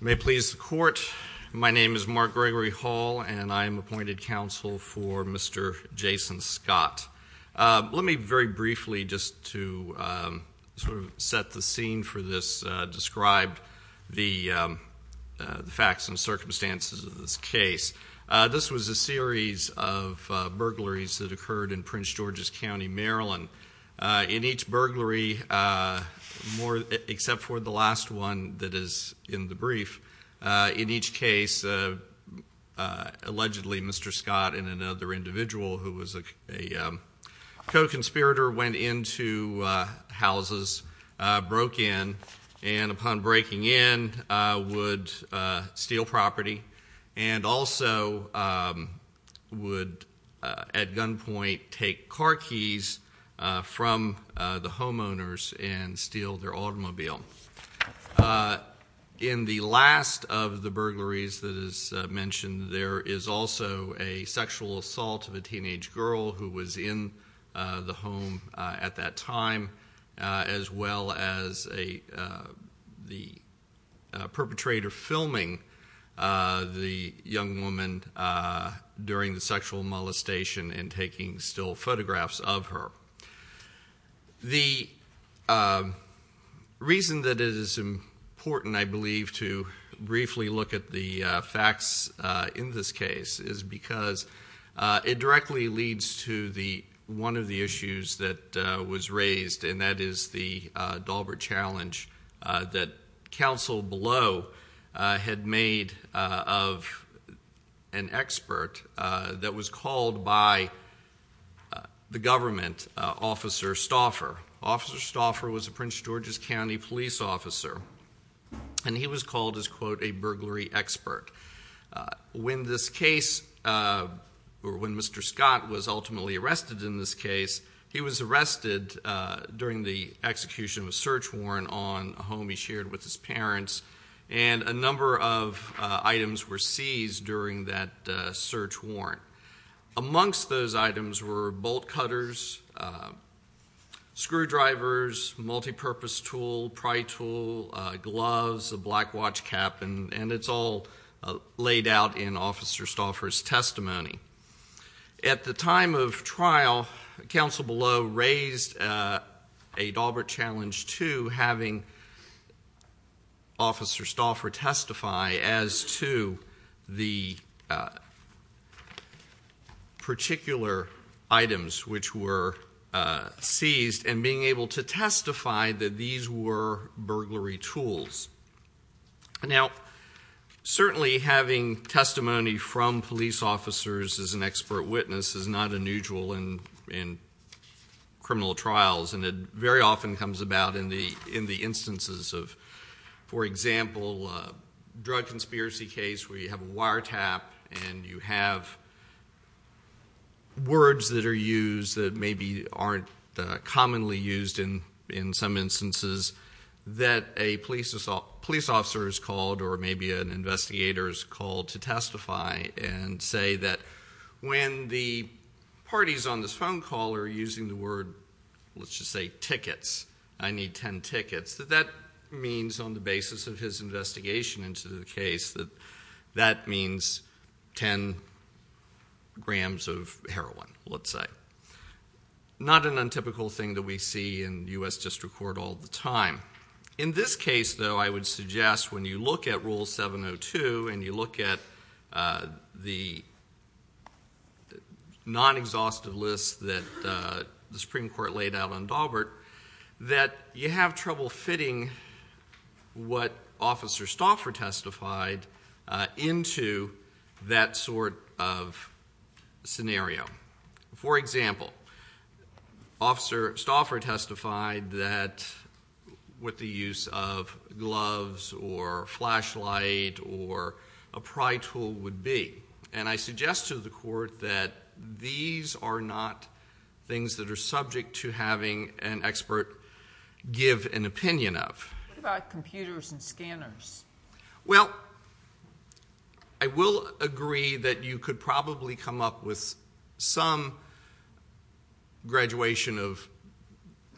May it please the court, my name is Mark Gregory Hall and I am appointed counsel for Mr. Jason Scott. Let me very briefly, just to sort of set the scene for this, describe the facts and circumstances of this case. This was a series of burglaries that occurred in Prince George's County, Maryland. In each case, allegedly Mr. Scott and another individual who was a co-conspirator went into houses, broke in, and upon breaking in would steal property and also would at gunpoint take car keys from the homeowners and steal their automobile. In the last of the burglaries that is mentioned, there is also a sexual assault of a teenage girl who was in the home at that time, as well as the perpetrator filming the young woman during the sexual molestation and taking still photographs of her. The reason that it is important, I believe, to briefly look at the facts in this case is because it directly leads to one of the issues that was raised, and that is the Dahlberg challenge that counsel below had made of an expert that was called by the government, Officer Stauffer. Officer Stauffer was a Prince George's County police officer and he was called, as quote, a burglary expert. When Mr. Scott was ultimately arrested in this case, he was arrested during the execution of a search warrant on a home he shared with his parents, and a number of items were seized during that search warrant. Amongst those items were bolt cutters, screwdrivers, multipurpose tool, pry tool, gloves, a black watch cap, and it's all laid out in Officer Stauffer's testimony. At the time of trial, counsel below raised a Dahlberg challenge to having Officer Stauffer testify as to the particular items which were seized, and being able to testify that these were burglary tools. Now, certainly having testimony from police officers as an expert witness is not unusual in criminal trials, and it very often comes about in the instances of, for example, a drug conspiracy case where you have a wiretap and you have words that are used that maybe aren't commonly used in some instances that a police officer is called or maybe an investigator is called to testify and say that when the parties on this phone call are using the word, let's just say tickets, I need 10 tickets, that that means on the basis of his investigation into the case, that that means 10 grams of heroin, let's say. Not an untypical thing that we see in US District Court all the time. In this case, though, I would suggest when you look at Rule 702 and you look at the non-exhaustive list that the Supreme Court laid out on Dahlberg, that you have trouble fitting what Officer Stauffer testified into that sort of scenario. For example, Officer Stauffer testified that what the use of gloves or flashlight or a pry tool would be. And I suggest to the court that these are not things that are subject to having an expert give an opinion of. What about computers and scanners? Well, I will agree that you could probably come up with some graduation of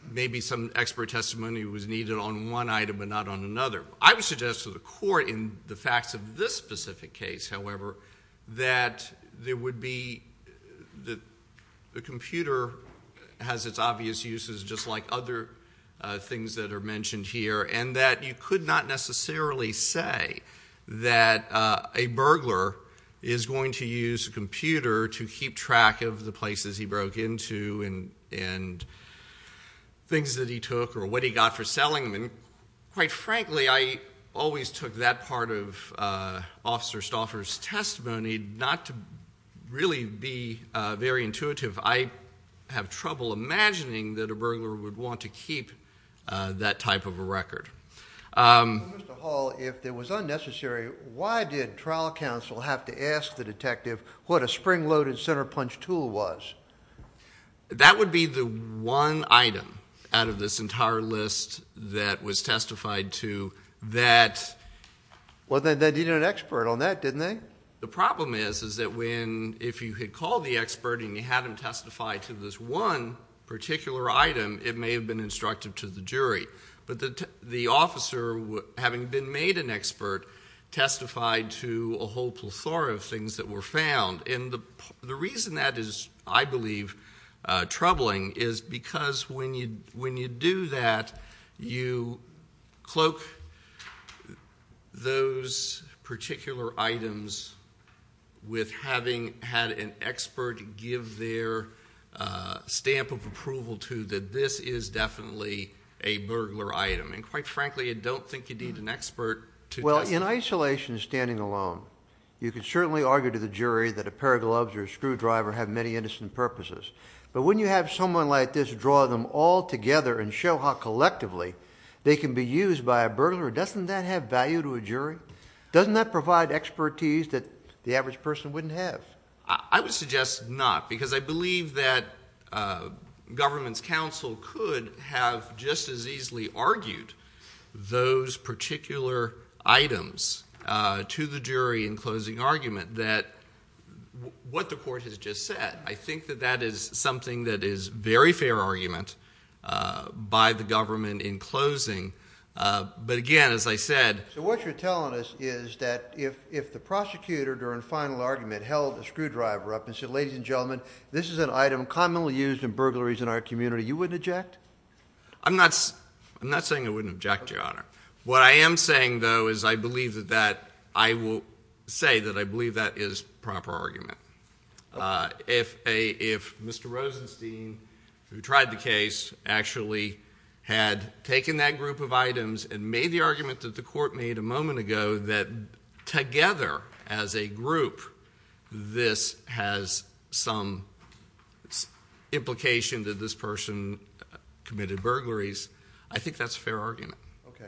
maybe some expert testimony was needed on one item but not on another. I would suggest to the court in the facts of this specific case, however, that there would be the computer has its obvious uses just like other things that are mentioned here. And that you could not necessarily say that a burglar is going to use a computer to keep track of the places he broke into and things that he took or what he got for selling them. Quite frankly, I always took that part of Officer Stauffer's testimony not to really be very intuitive. I have trouble imagining that a burglar would want to keep that type of a record. Mr. Hall, if it was unnecessary, why did trial counsel have to ask the detective what a spring loaded center punch tool was? That would be the one item out of this entire list that was testified to that- Well, then they needed an expert on that, didn't they? The problem is that if you had called the expert and you had him testify to this one particular item, it may have been instructive to the jury. But the officer, having been made an expert, testified to a whole plethora of things that were found. And the reason that is, I believe, troubling is because when you do that, you cloak those particular items with having had an expert give their stamp of approval to that this is definitely a burglar item. And quite frankly, I don't think you need an expert to- In isolation, standing alone, you could certainly argue to the jury that a pair of gloves or a screwdriver have many innocent purposes. But when you have someone like this draw them all together and show how collectively they can be used by a burglar, doesn't that have value to a jury? Doesn't that provide expertise that the average person wouldn't have? I would suggest not, because I believe that government's counsel could have just as easily argued those particular items to the jury in closing argument that what the court has just said. I think that that is something that is very fair argument by the government in closing. But again, as I said- So what you're telling us is that if the prosecutor, during final argument, held a screwdriver up and said, ladies and gentlemen, this is an item commonly used in burglaries in our community, you wouldn't eject? I'm not saying I wouldn't eject, Your Honor. What I am saying, though, is I believe that that, I will say that I believe that is proper argument. If Mr. Rosenstein, who tried the case, actually had taken that group of items and made the argument that the court made a moment ago that together as a group this has some implication that this person committed burglaries, I think that's a fair argument. Okay.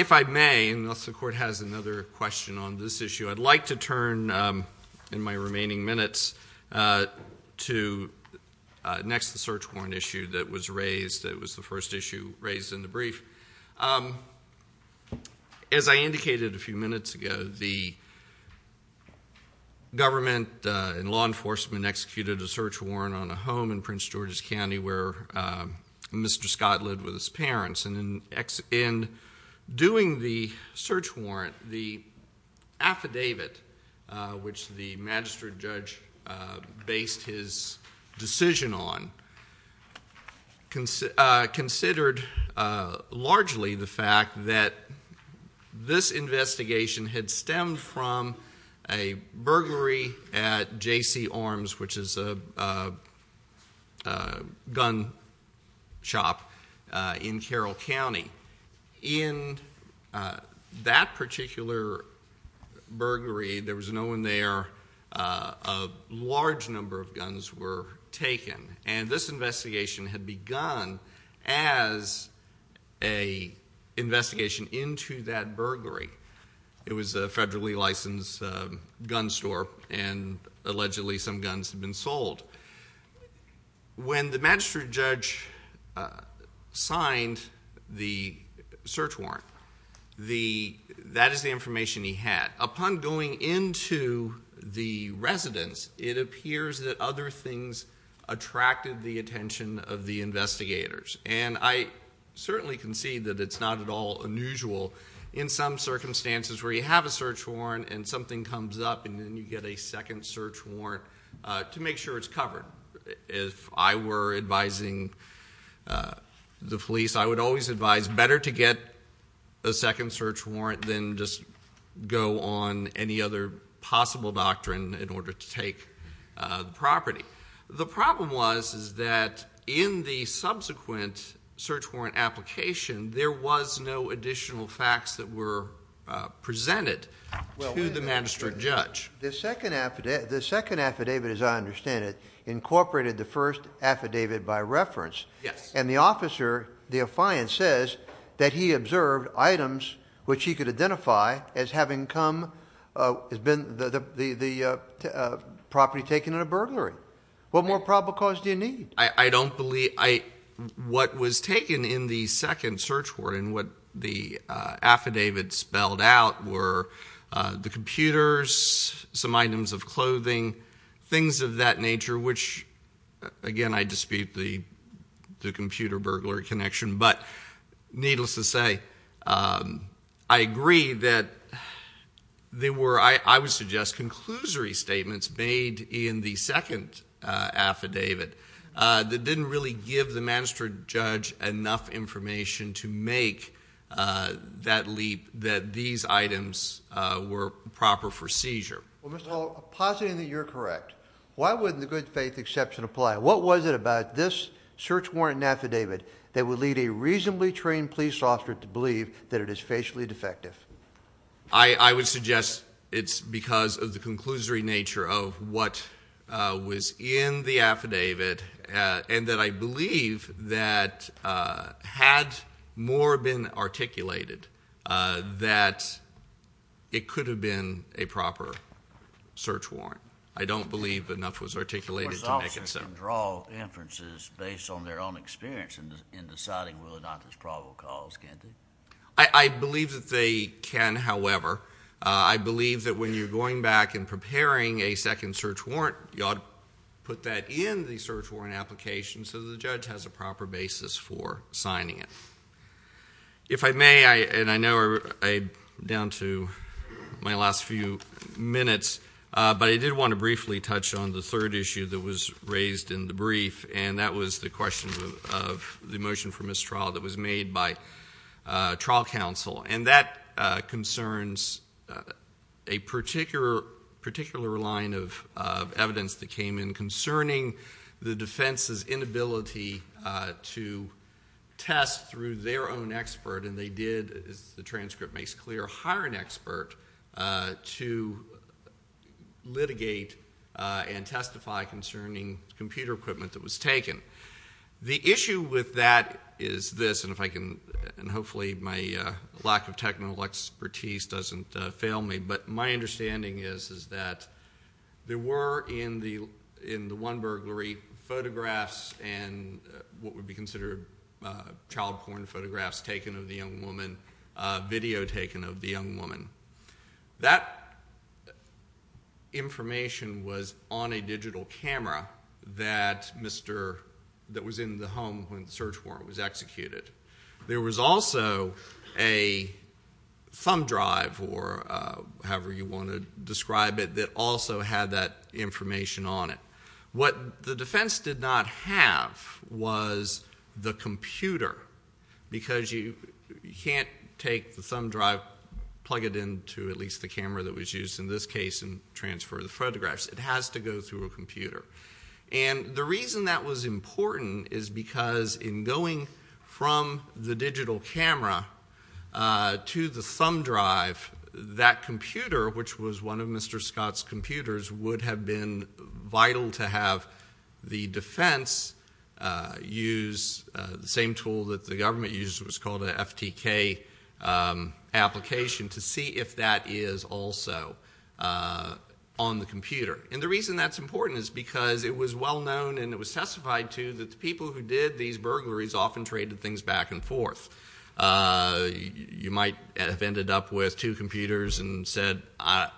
If I may, unless the court has another question on this issue, I'd like to turn in my remaining minutes to next the search warrant issue that was raised, that was the first issue raised in the brief. As I indicated a few minutes ago, the government and the search warrant on a home in Prince George's County where Mr. Scott lived with his parents. And in doing the search warrant, the affidavit, which the magistrate judge based his decision on, considered largely the fact that this investigation had stemmed from a burglary at JC Arms, which is a gun shop in Carroll County. In that particular burglary, there was no one there, a large number of guns were taken. And this investigation had begun as a investigation into that burglary. It was a federally licensed gun store, and allegedly some guns had been sold. When the magistrate judge signed the search warrant, that is the information he had. Upon going into the residence, it appears that other things attracted the attention of the investigators. And I certainly can see that it's not at all unusual in some circumstances where you have a search warrant and something comes up and then you get a second search warrant to make sure it's covered. If I were advising the police, I would always advise better to get a second search warrant than just go on any other possible doctrine in order to take the property. The problem was is that in the subsequent search warrant application, there was no additional facts that were presented to the magistrate judge. The second affidavit, as I understand it, incorporated the first affidavit by reference. Yes. And the officer, the affiant, says that he observed items which he could identify as having come, has been the property taken in a burglary. What more probable cause do you need? I don't believe, what was taken in the second search warrant and what the affidavit spelled out were the computers, some items of clothing, things of that nature, which again, I dispute the computer burglary connection, but needless to say, I agree that there were, I would suggest, conclusory statements made in the second affidavit that didn't really give the magistrate judge enough information to make that leap, that these items were proper for seizure. Well, Mr. Hall, I'm positive that you're correct. Why wouldn't the good faith exception apply? What was it about this search warrant and affidavit that would lead a reasonably trained police officer to believe that it is facially defective? I would suggest it's because of the conclusory nature of what was in the affidavit and that I believe that had more been articulated that it could have been a proper search warrant. I don't believe enough was articulated to make it so. They can draw inferences based on their own experience in deciding whether or not there's probable cause, can't they? I believe that they can, however. I believe that when you're going back and preparing a second search warrant, you ought to put that in the search warrant application so that the judge has a proper basis for signing it. If I may, and I know I'm down to my last few minutes, but I did want to briefly touch on the third issue that was raised in the brief, and that was the question of the motion for mistrial that was made by trial counsel. And that concerns a particular line of evidence that came in concerning the defense's inability to test through their own expert. And they did, as the transcript makes clear, hire an expert to litigate and testify concerning computer equipment that was taken. The issue with that is this, and hopefully my lack of technical expertise doesn't fail me, but my understanding is that there were in the one burglary photographs and what would be considered child porn photographs taken of the young woman, video taken of the young woman. That information was on a digital camera that was in the home when the search warrant was executed. There was also a thumb drive, or however you want to describe it, that also had that information on it. What the defense did not have was the computer, because you can't take the thumb drive, plug it into at least the camera that was used in this case, and transfer the photographs. It has to go through a computer. And the reason that was important is because in going from the digital camera to the thumb drive, that computer, which was one of Mr. Scott's computers, would have been vital to have the defense use the same tool that the government used, it was called a FTK application, to see if that is also on the computer. And the reason that's important is because it was well known, and it was testified to, that the people who did these burglaries often traded things back and forth. You might have ended up with two computers and said, I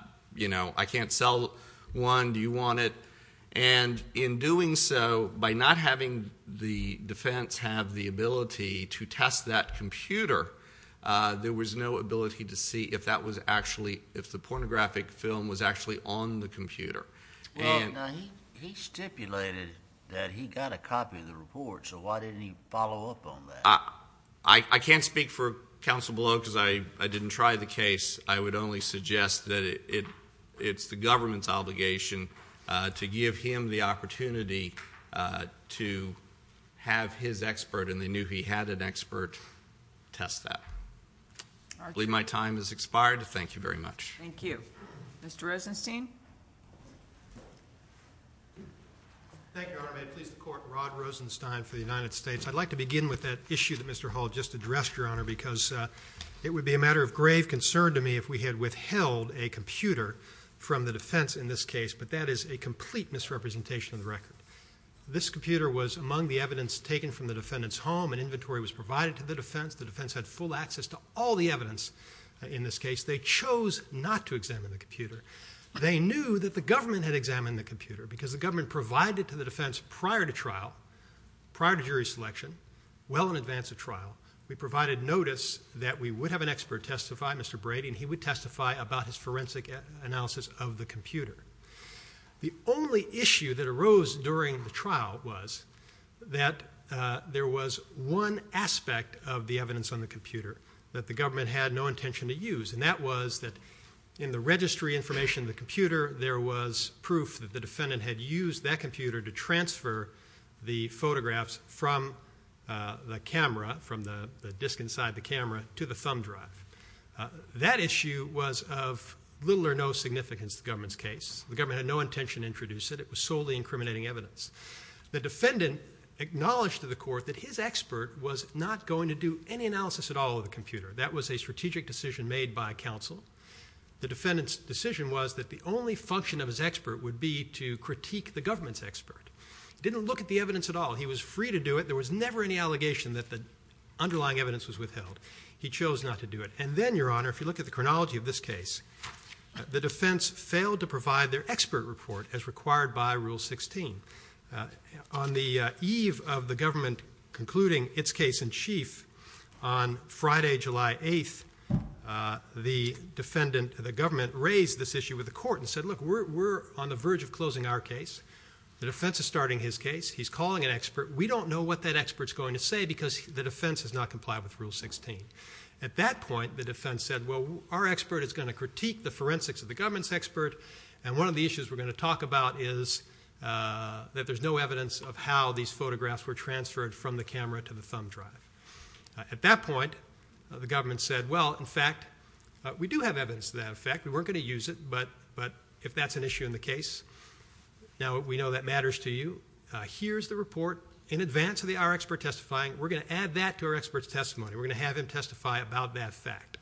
can't sell one, do you want it? And in doing so, by not having the defense have the ability to test that computer, there was no ability to see if the pornographic film was actually on the computer. And- Now he stipulated that he got a copy of the report, so why didn't he follow up on that? I can't speak for counsel below, because I didn't try the case. I would only suggest that it's the government's obligation to give him the opportunity to have his expert, and they knew he had an expert, test that. I believe my time has expired. Thank you very much. Thank you. Mr. Rosenstein? Thank you, Your Honor, may it please the court, Rod Rosenstein for the United States. I'd like to begin with that issue that Mr. Hall just addressed, Your Honor, because it would be a matter of grave concern to me if we had withheld a computer from the defense in this case, but that is a complete misrepresentation of the record. This computer was among the evidence taken from the defendant's home, and inventory was provided to the defense. The defense had full access to all the evidence in this case. They chose not to examine the computer. They knew that the government had examined the computer, because the government provided to the defense prior to trial, prior to jury selection, well in advance of trial, we provided notice that we would have an expert testify, Mr. Brady, and he would testify about his forensic analysis of the computer. The only issue that arose during the trial was that there was one aspect of the evidence on the computer that the government had no intention to use, and that was that in the registry information of the computer, there was proof that the defendant had used that computer to transfer the photographs from the camera, from the disc inside the camera, to the thumb drive. That issue was of little or no significance to the government's case. The government had no intention to introduce it. It was solely incriminating evidence. The defendant acknowledged to the court that his expert was not going to do any analysis at all of the computer. That was a strategic decision made by counsel. The defendant's decision was that the only function of his expert would be to critique the government's expert. Didn't look at the evidence at all. He was free to do it. There was never any allegation that the underlying evidence was withheld. He chose not to do it. And then, Your Honor, if you look at the chronology of this case, the defense failed to provide their expert report as required by Rule 16. On the eve of the government concluding its case in chief on Friday, July 8th, the defendant, the government, raised this issue with the court and said, look, we're on the verge of closing our case. The defense is starting his case. He's calling an expert. We don't know what that expert's going to say because the defense has not complied with Rule 16. At that point, the defense said, well, our expert is going to critique the forensics of the government's expert. And one of the issues we're going to talk about is that there's no evidence of how these photographs were transferred from the camera to the thumb drive. At that point, the government said, well, in fact, we do have evidence to that effect. We weren't going to use it, but if that's an issue in the case, now we know that matters to you. Here's the report in advance of our expert testifying. We're going to add that to our expert's testimony. We're going to have him testify about that fact.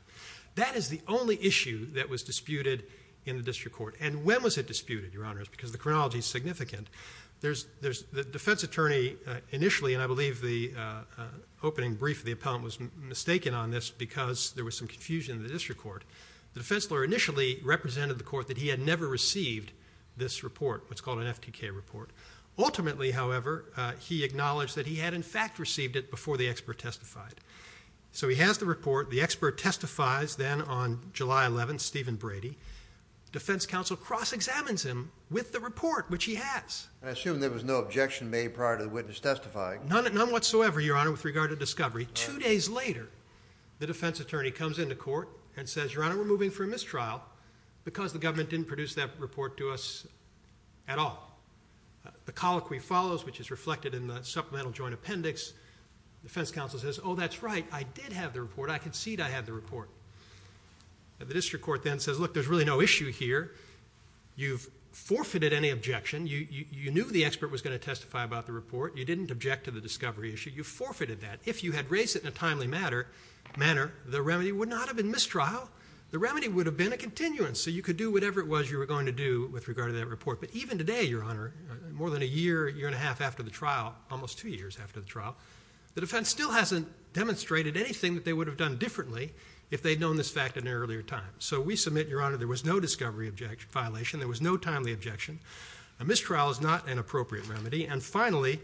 That is the only issue that was disputed in the district court. And when was it disputed, Your Honors? Because the chronology is significant. The defense attorney initially, and I believe the opening brief of the appellant was mistaken on this because there was some confusion in the district court. The defense lawyer initially represented the court that he had never received this report, what's called an FTK report. Ultimately, however, he acknowledged that he had, in fact, received it before the expert testified. So he has the report. The expert testifies then on July 11, Stephen Brady. Defense counsel cross-examines him with the report, which he has. I assume there was no objection made prior to the witness testifying. None whatsoever, Your Honor, with regard to discovery. Two days later, the defense attorney comes into court and says, Your Honor, we're moving for a mistrial because the government didn't produce that report to us at all. The colloquy follows, which is reflected in the supplemental joint appendix. Defense counsel says, oh, that's right. I did have the report. I concede I had the report. The district court then says, look, there's really no issue here. You've forfeited any objection. You knew the expert was going to testify about the report. You didn't object to the discovery issue. You forfeited that. If you had raised it in a timely manner, the remedy would not have been mistrial. The remedy would have been a continuance. So you could do whatever it was you were going to do with regard to that report. But even today, Your Honor, more than a year, year and a half after the trial, almost two years after the trial, the defense still hasn't demonstrated anything that they would have done differently if they'd known this fact at an earlier time. So we submit, Your Honor, there was no discovery violation. There was no timely objection. A mistrial is not an appropriate remedy. And finally,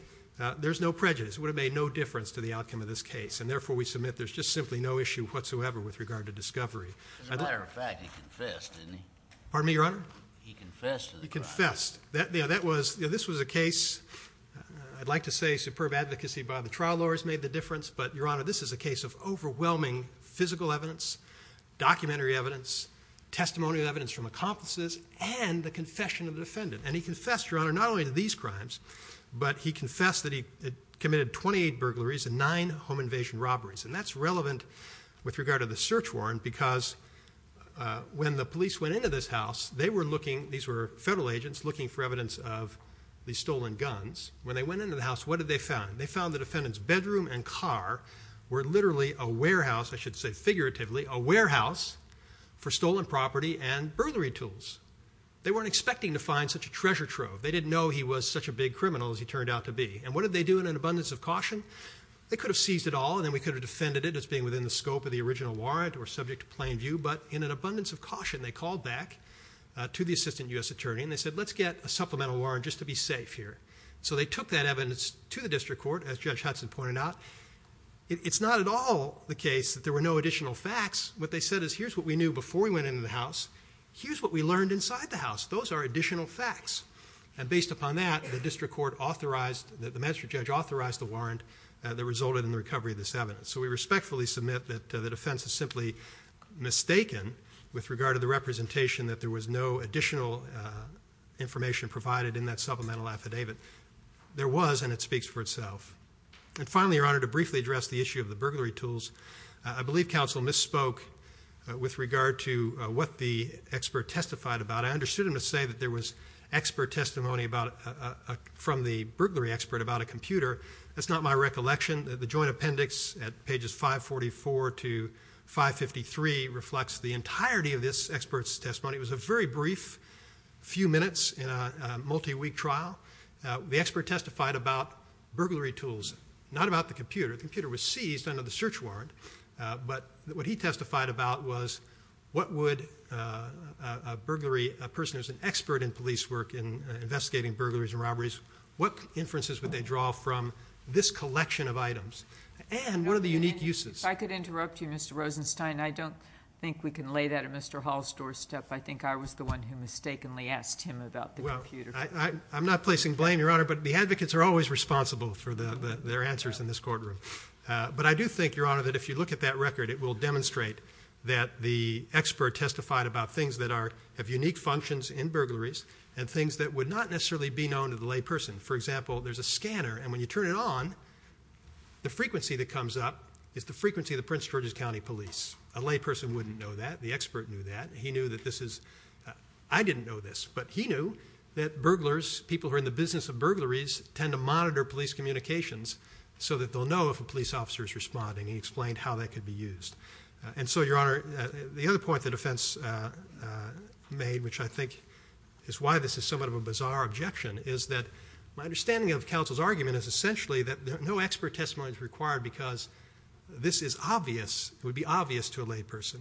there's no prejudice. It would have made no difference to the outcome of this case. And therefore, we submit there's just simply no issue whatsoever with regard to discovery. As a matter of fact, he confessed, didn't he? Pardon me, Your Honor? He confessed to the crime. He confessed. You know, this was a case, I'd like to say superb advocacy by the trial lawyers made the difference. But Your Honor, this is a case of overwhelming physical evidence, documentary evidence, testimonial evidence from accomplices, and the confession of the defendant. And he confessed, Your Honor, not only to these crimes, but he confessed that he committed 28 burglaries and nine home invasion robberies. And that's relevant with regard to the search warrant because when the police went into this house, they were looking, these were federal agents looking for evidence of the stolen guns. When they went into the house, what did they find? They found the defendant's bedroom and car were literally a warehouse, I should say figuratively, a warehouse for stolen property and burglary tools. They weren't expecting to find such a treasure trove. They didn't know he was such a big criminal as he turned out to be. And what did they do in an abundance of caution? They could have seized it all and then we could have defended it as being within the scope of the original warrant or subject to plain view. But in an abundance of caution, they called back to the assistant U.S. attorney and they said, let's get a supplemental warrant just to be safe here. So they took that evidence to the district court as Judge Hudson pointed out. It's not at all the case that there were no additional facts. What they said is here's what we knew before we went into the house, here's what we learned inside the house. Those are additional facts. And based upon that, the district court authorized, the magistrate judge authorized the warrant that resulted in the recovery of this evidence. So we respectfully submit that the defense is simply mistaken with regard to the representation that there was no additional information provided in that supplemental affidavit. There was and it speaks for itself. And finally, Your Honor, to briefly address the issue of the burglary tools, I believe counsel misspoke with regard to what the expert testified about. I understood him to say that there was expert testimony about from the burglary expert about a computer. That's not my recollection. The joint appendix at pages 544 to 553 reflects the entirety of this expert's testimony. It was a very brief few minutes in a multi-week trial. The expert testified about burglary tools, not about the computer. The computer was seized under the search warrant. But what he testified about was what would a burglary person who's an expert in police work in investigating burglaries and robberies, what inferences would they draw from this collection of items? And what are the unique uses? If I could interrupt you, Mr. Rosenstein, I don't think we can lay that at Mr. Hall's doorstep. I think I was the one who mistakenly asked him about the computer. Well, I'm not placing blame, Your Honor, but the advocates are always responsible for their answers in this courtroom. But I do think, Your Honor, that if you look at that record, it will demonstrate that the expert testified about things that have unique functions in burglaries and things that would not necessarily be known to the layperson. For example, there's a scanner, and when you turn it on, the frequency that comes up is the frequency of the Prince George's County Police. A layperson wouldn't know that. The expert knew that. He knew that this is, I didn't know this, but he knew that burglars, people who are in the business of burglaries, tend to monitor police communications so that they'll know if a police officer is responding. He explained how that could be used. And so, Your Honor, the other point the defense made, which I think is why this is somewhat of a bizarre objection is that my understanding of counsel's argument is essentially that no expert testimony is required because this is obvious, it would be obvious to a layperson,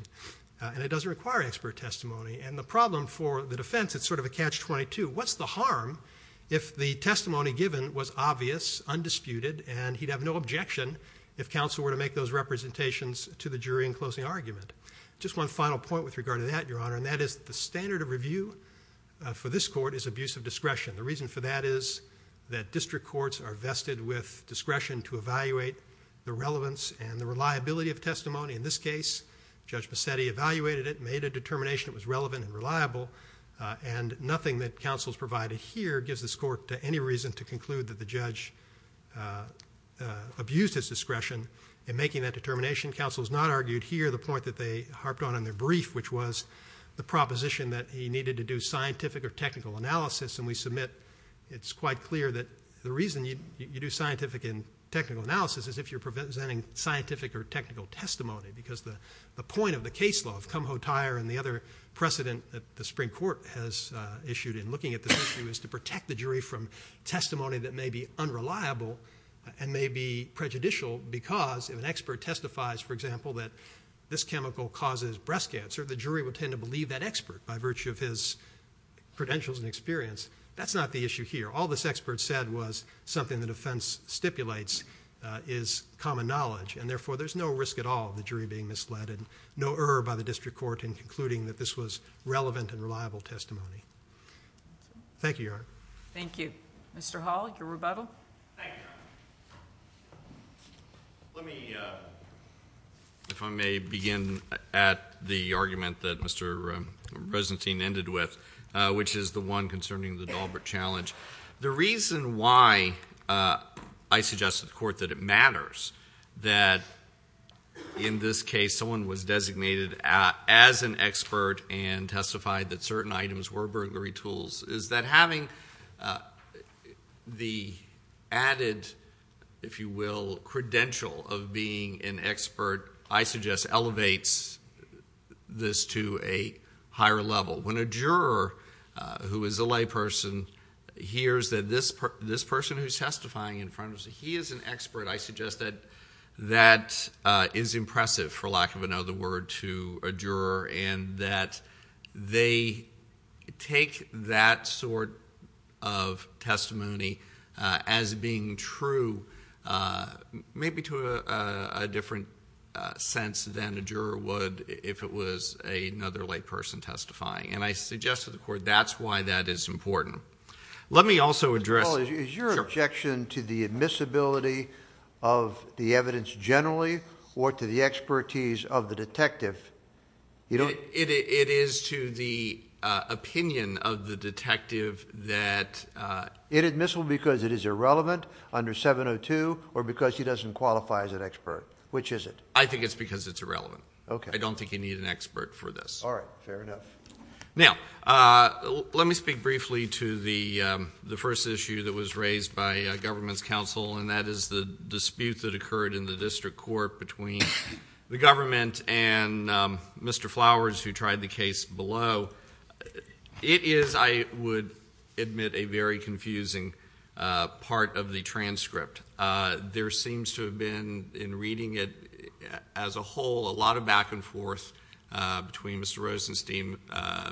and it doesn't require expert testimony. And the problem for the defense, it's sort of a catch-22. What's the harm if the testimony given was obvious, undisputed, and he'd have no objection if counsel were to make those representations to the jury in closing argument? Just one final point with regard to that, Your Honor, and that is the standard of review for this court is abuse of discretion. The reason for that is that district courts are vested with discretion to evaluate the relevance and the reliability of testimony. In this case, Judge Bassetti evaluated it, made a determination it was relevant and reliable, and nothing that counsel's provided here gives this court any reason to conclude that the judge abused his discretion in making that determination. Counsel's not argued here the point that they harped on in their brief, which was the proposition that he needed to do scientific or technical analysis, and we submit it's quite clear that the reason you do scientific and technical analysis is if you're presenting scientific or technical testimony because the point of the case law of Kumho-Tyre and the other precedent that the Supreme Court has issued in looking at this issue is to protect the jury from testimony that may be unreliable and may be prejudicial because if an expert testifies, for example, that this chemical causes breast cancer, the jury would tend to believe that expert by virtue of his credentials and experience. That's not the issue here. All this expert said was something that offense stipulates is common knowledge, and therefore, there's no risk at all of the jury being misled and no error by the district court in concluding that this was relevant and reliable testimony. Thank you, Your Honor. Thank you. Mr. Hall, your rebuttal. Thank you. Let me, if I may, begin at the argument that Mr. Resentine ended with, which is the one concerning the Daubert challenge. The reason why I suggested to the court that it matters that in this case, someone was designated as an expert and testified that certain items were burglary tools is that having the added, if you will, credential of being an expert, I suggest elevates this to a higher level. When a juror who is a layperson, hears that this person who's testifying in front of us, he is an expert, I suggest that that is impressive, for lack of another word, to a juror, and that they take that sort of testimony as being true, maybe to a different sense than a juror would if it was another layperson testifying. And I suggest to the court, that's why that is important. Let me also address- Mr. Hall, is your objection to the admissibility of the evidence generally, or to the expertise of the detective? It is to the opinion of the detective that- Inadmissible because it is irrelevant under 702, or because he doesn't qualify as an expert. Which is it? I think it's because it's irrelevant. Okay. I don't think you need an expert for this. All right, fair enough. Now, let me speak briefly to the first issue that was raised by government's counsel, and that is the dispute that occurred in the district court between the government and Mr. Flowers, who tried the case below. It is, I would admit, a very confusing part of the transcript. There seems to have been, in reading it as a whole, a lot of back and forth between Mr. Rosenstein,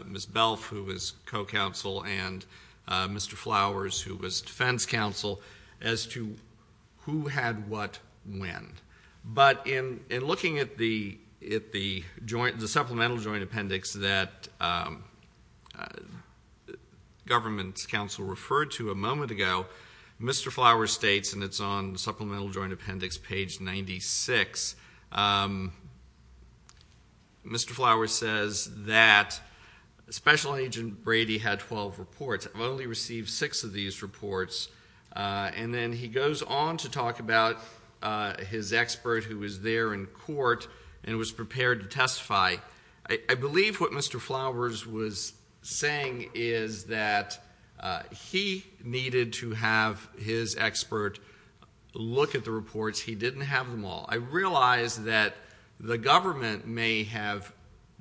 Ms. Belf, who was co-counsel, and Mr. Flowers, who was defense counsel, as to who had what when. But in looking at the supplemental joint appendix that government's counsel referred to a moment ago, Mr. Flowers states, and it's on supplemental joint appendix page 96, Mr. Flowers says that Special Agent Brady had 12 reports. I've only received six of these reports. And then he goes on to talk about his expert who was there in court and was prepared to testify. I believe what Mr. Flowers was saying is that he needed to have his expert look at the reports. He didn't have them all. I realize that the government may have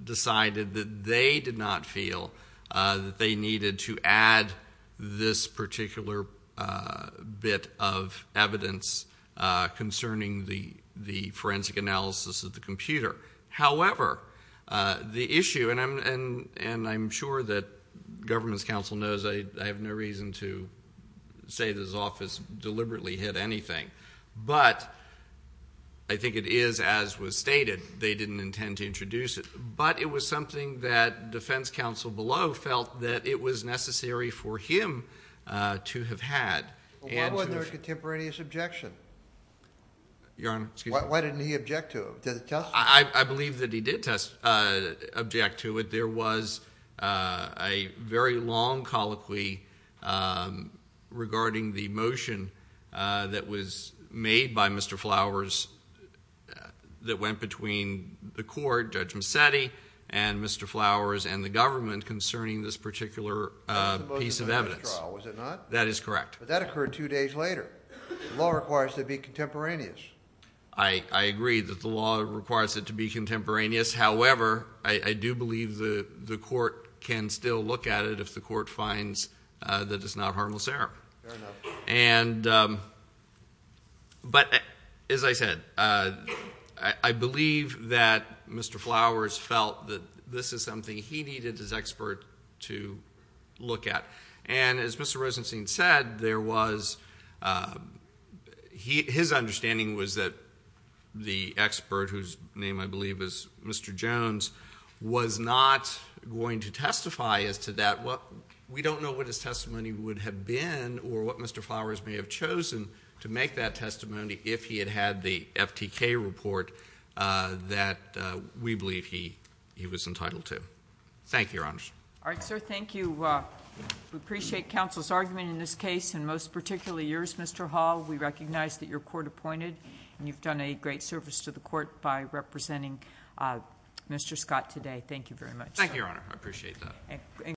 decided that they did not feel that they needed to add this particular bit of evidence concerning the forensic analysis of the computer. However, the issue, and I'm sure that government's counsel knows I have no reason to say that his office deliberately hid anything. But I think it is as was stated, they didn't intend to introduce it. But it was something that defense counsel below felt that it was necessary for him to have had. And- Why wasn't there a contemporaneous objection? Your Honor, excuse me. Why didn't he object to it? Did he testify? I believe that he did object to it. There was a very long colloquy regarding the motion that was made by Mr. Flowers that went between the court, Judge Mazzetti, and Mr. Flowers and the government concerning this particular piece of evidence. Was it not? That is correct. But that occurred two days later. The law requires it to be contemporaneous. I agree that the law requires it to be contemporaneous. However, I do believe the court can still look at it if the court finds that it's not harmless error. Fair enough. And, but as I said, I believe that Mr. Flowers felt that this is something he needed his expert to look at. And as Mr. Rosenstein said, there was, his understanding was that the expert, whose name I believe is Mr. Jones, was not going to testify as to that. We don't know what his testimony would have been or what Mr. Flowers may have chosen to make that testimony if he had had the FTK report that we believe he was entitled to. Thank you, Your Honor. All right, sir, thank you. We appreciate counsel's argument in this case, and most particularly yours, Mr. Hall. We recognize that you're court appointed and you've done a great service to the court by representing Mr. Scott today. Thank you very much. Thank you, Your Honor. I appreciate that.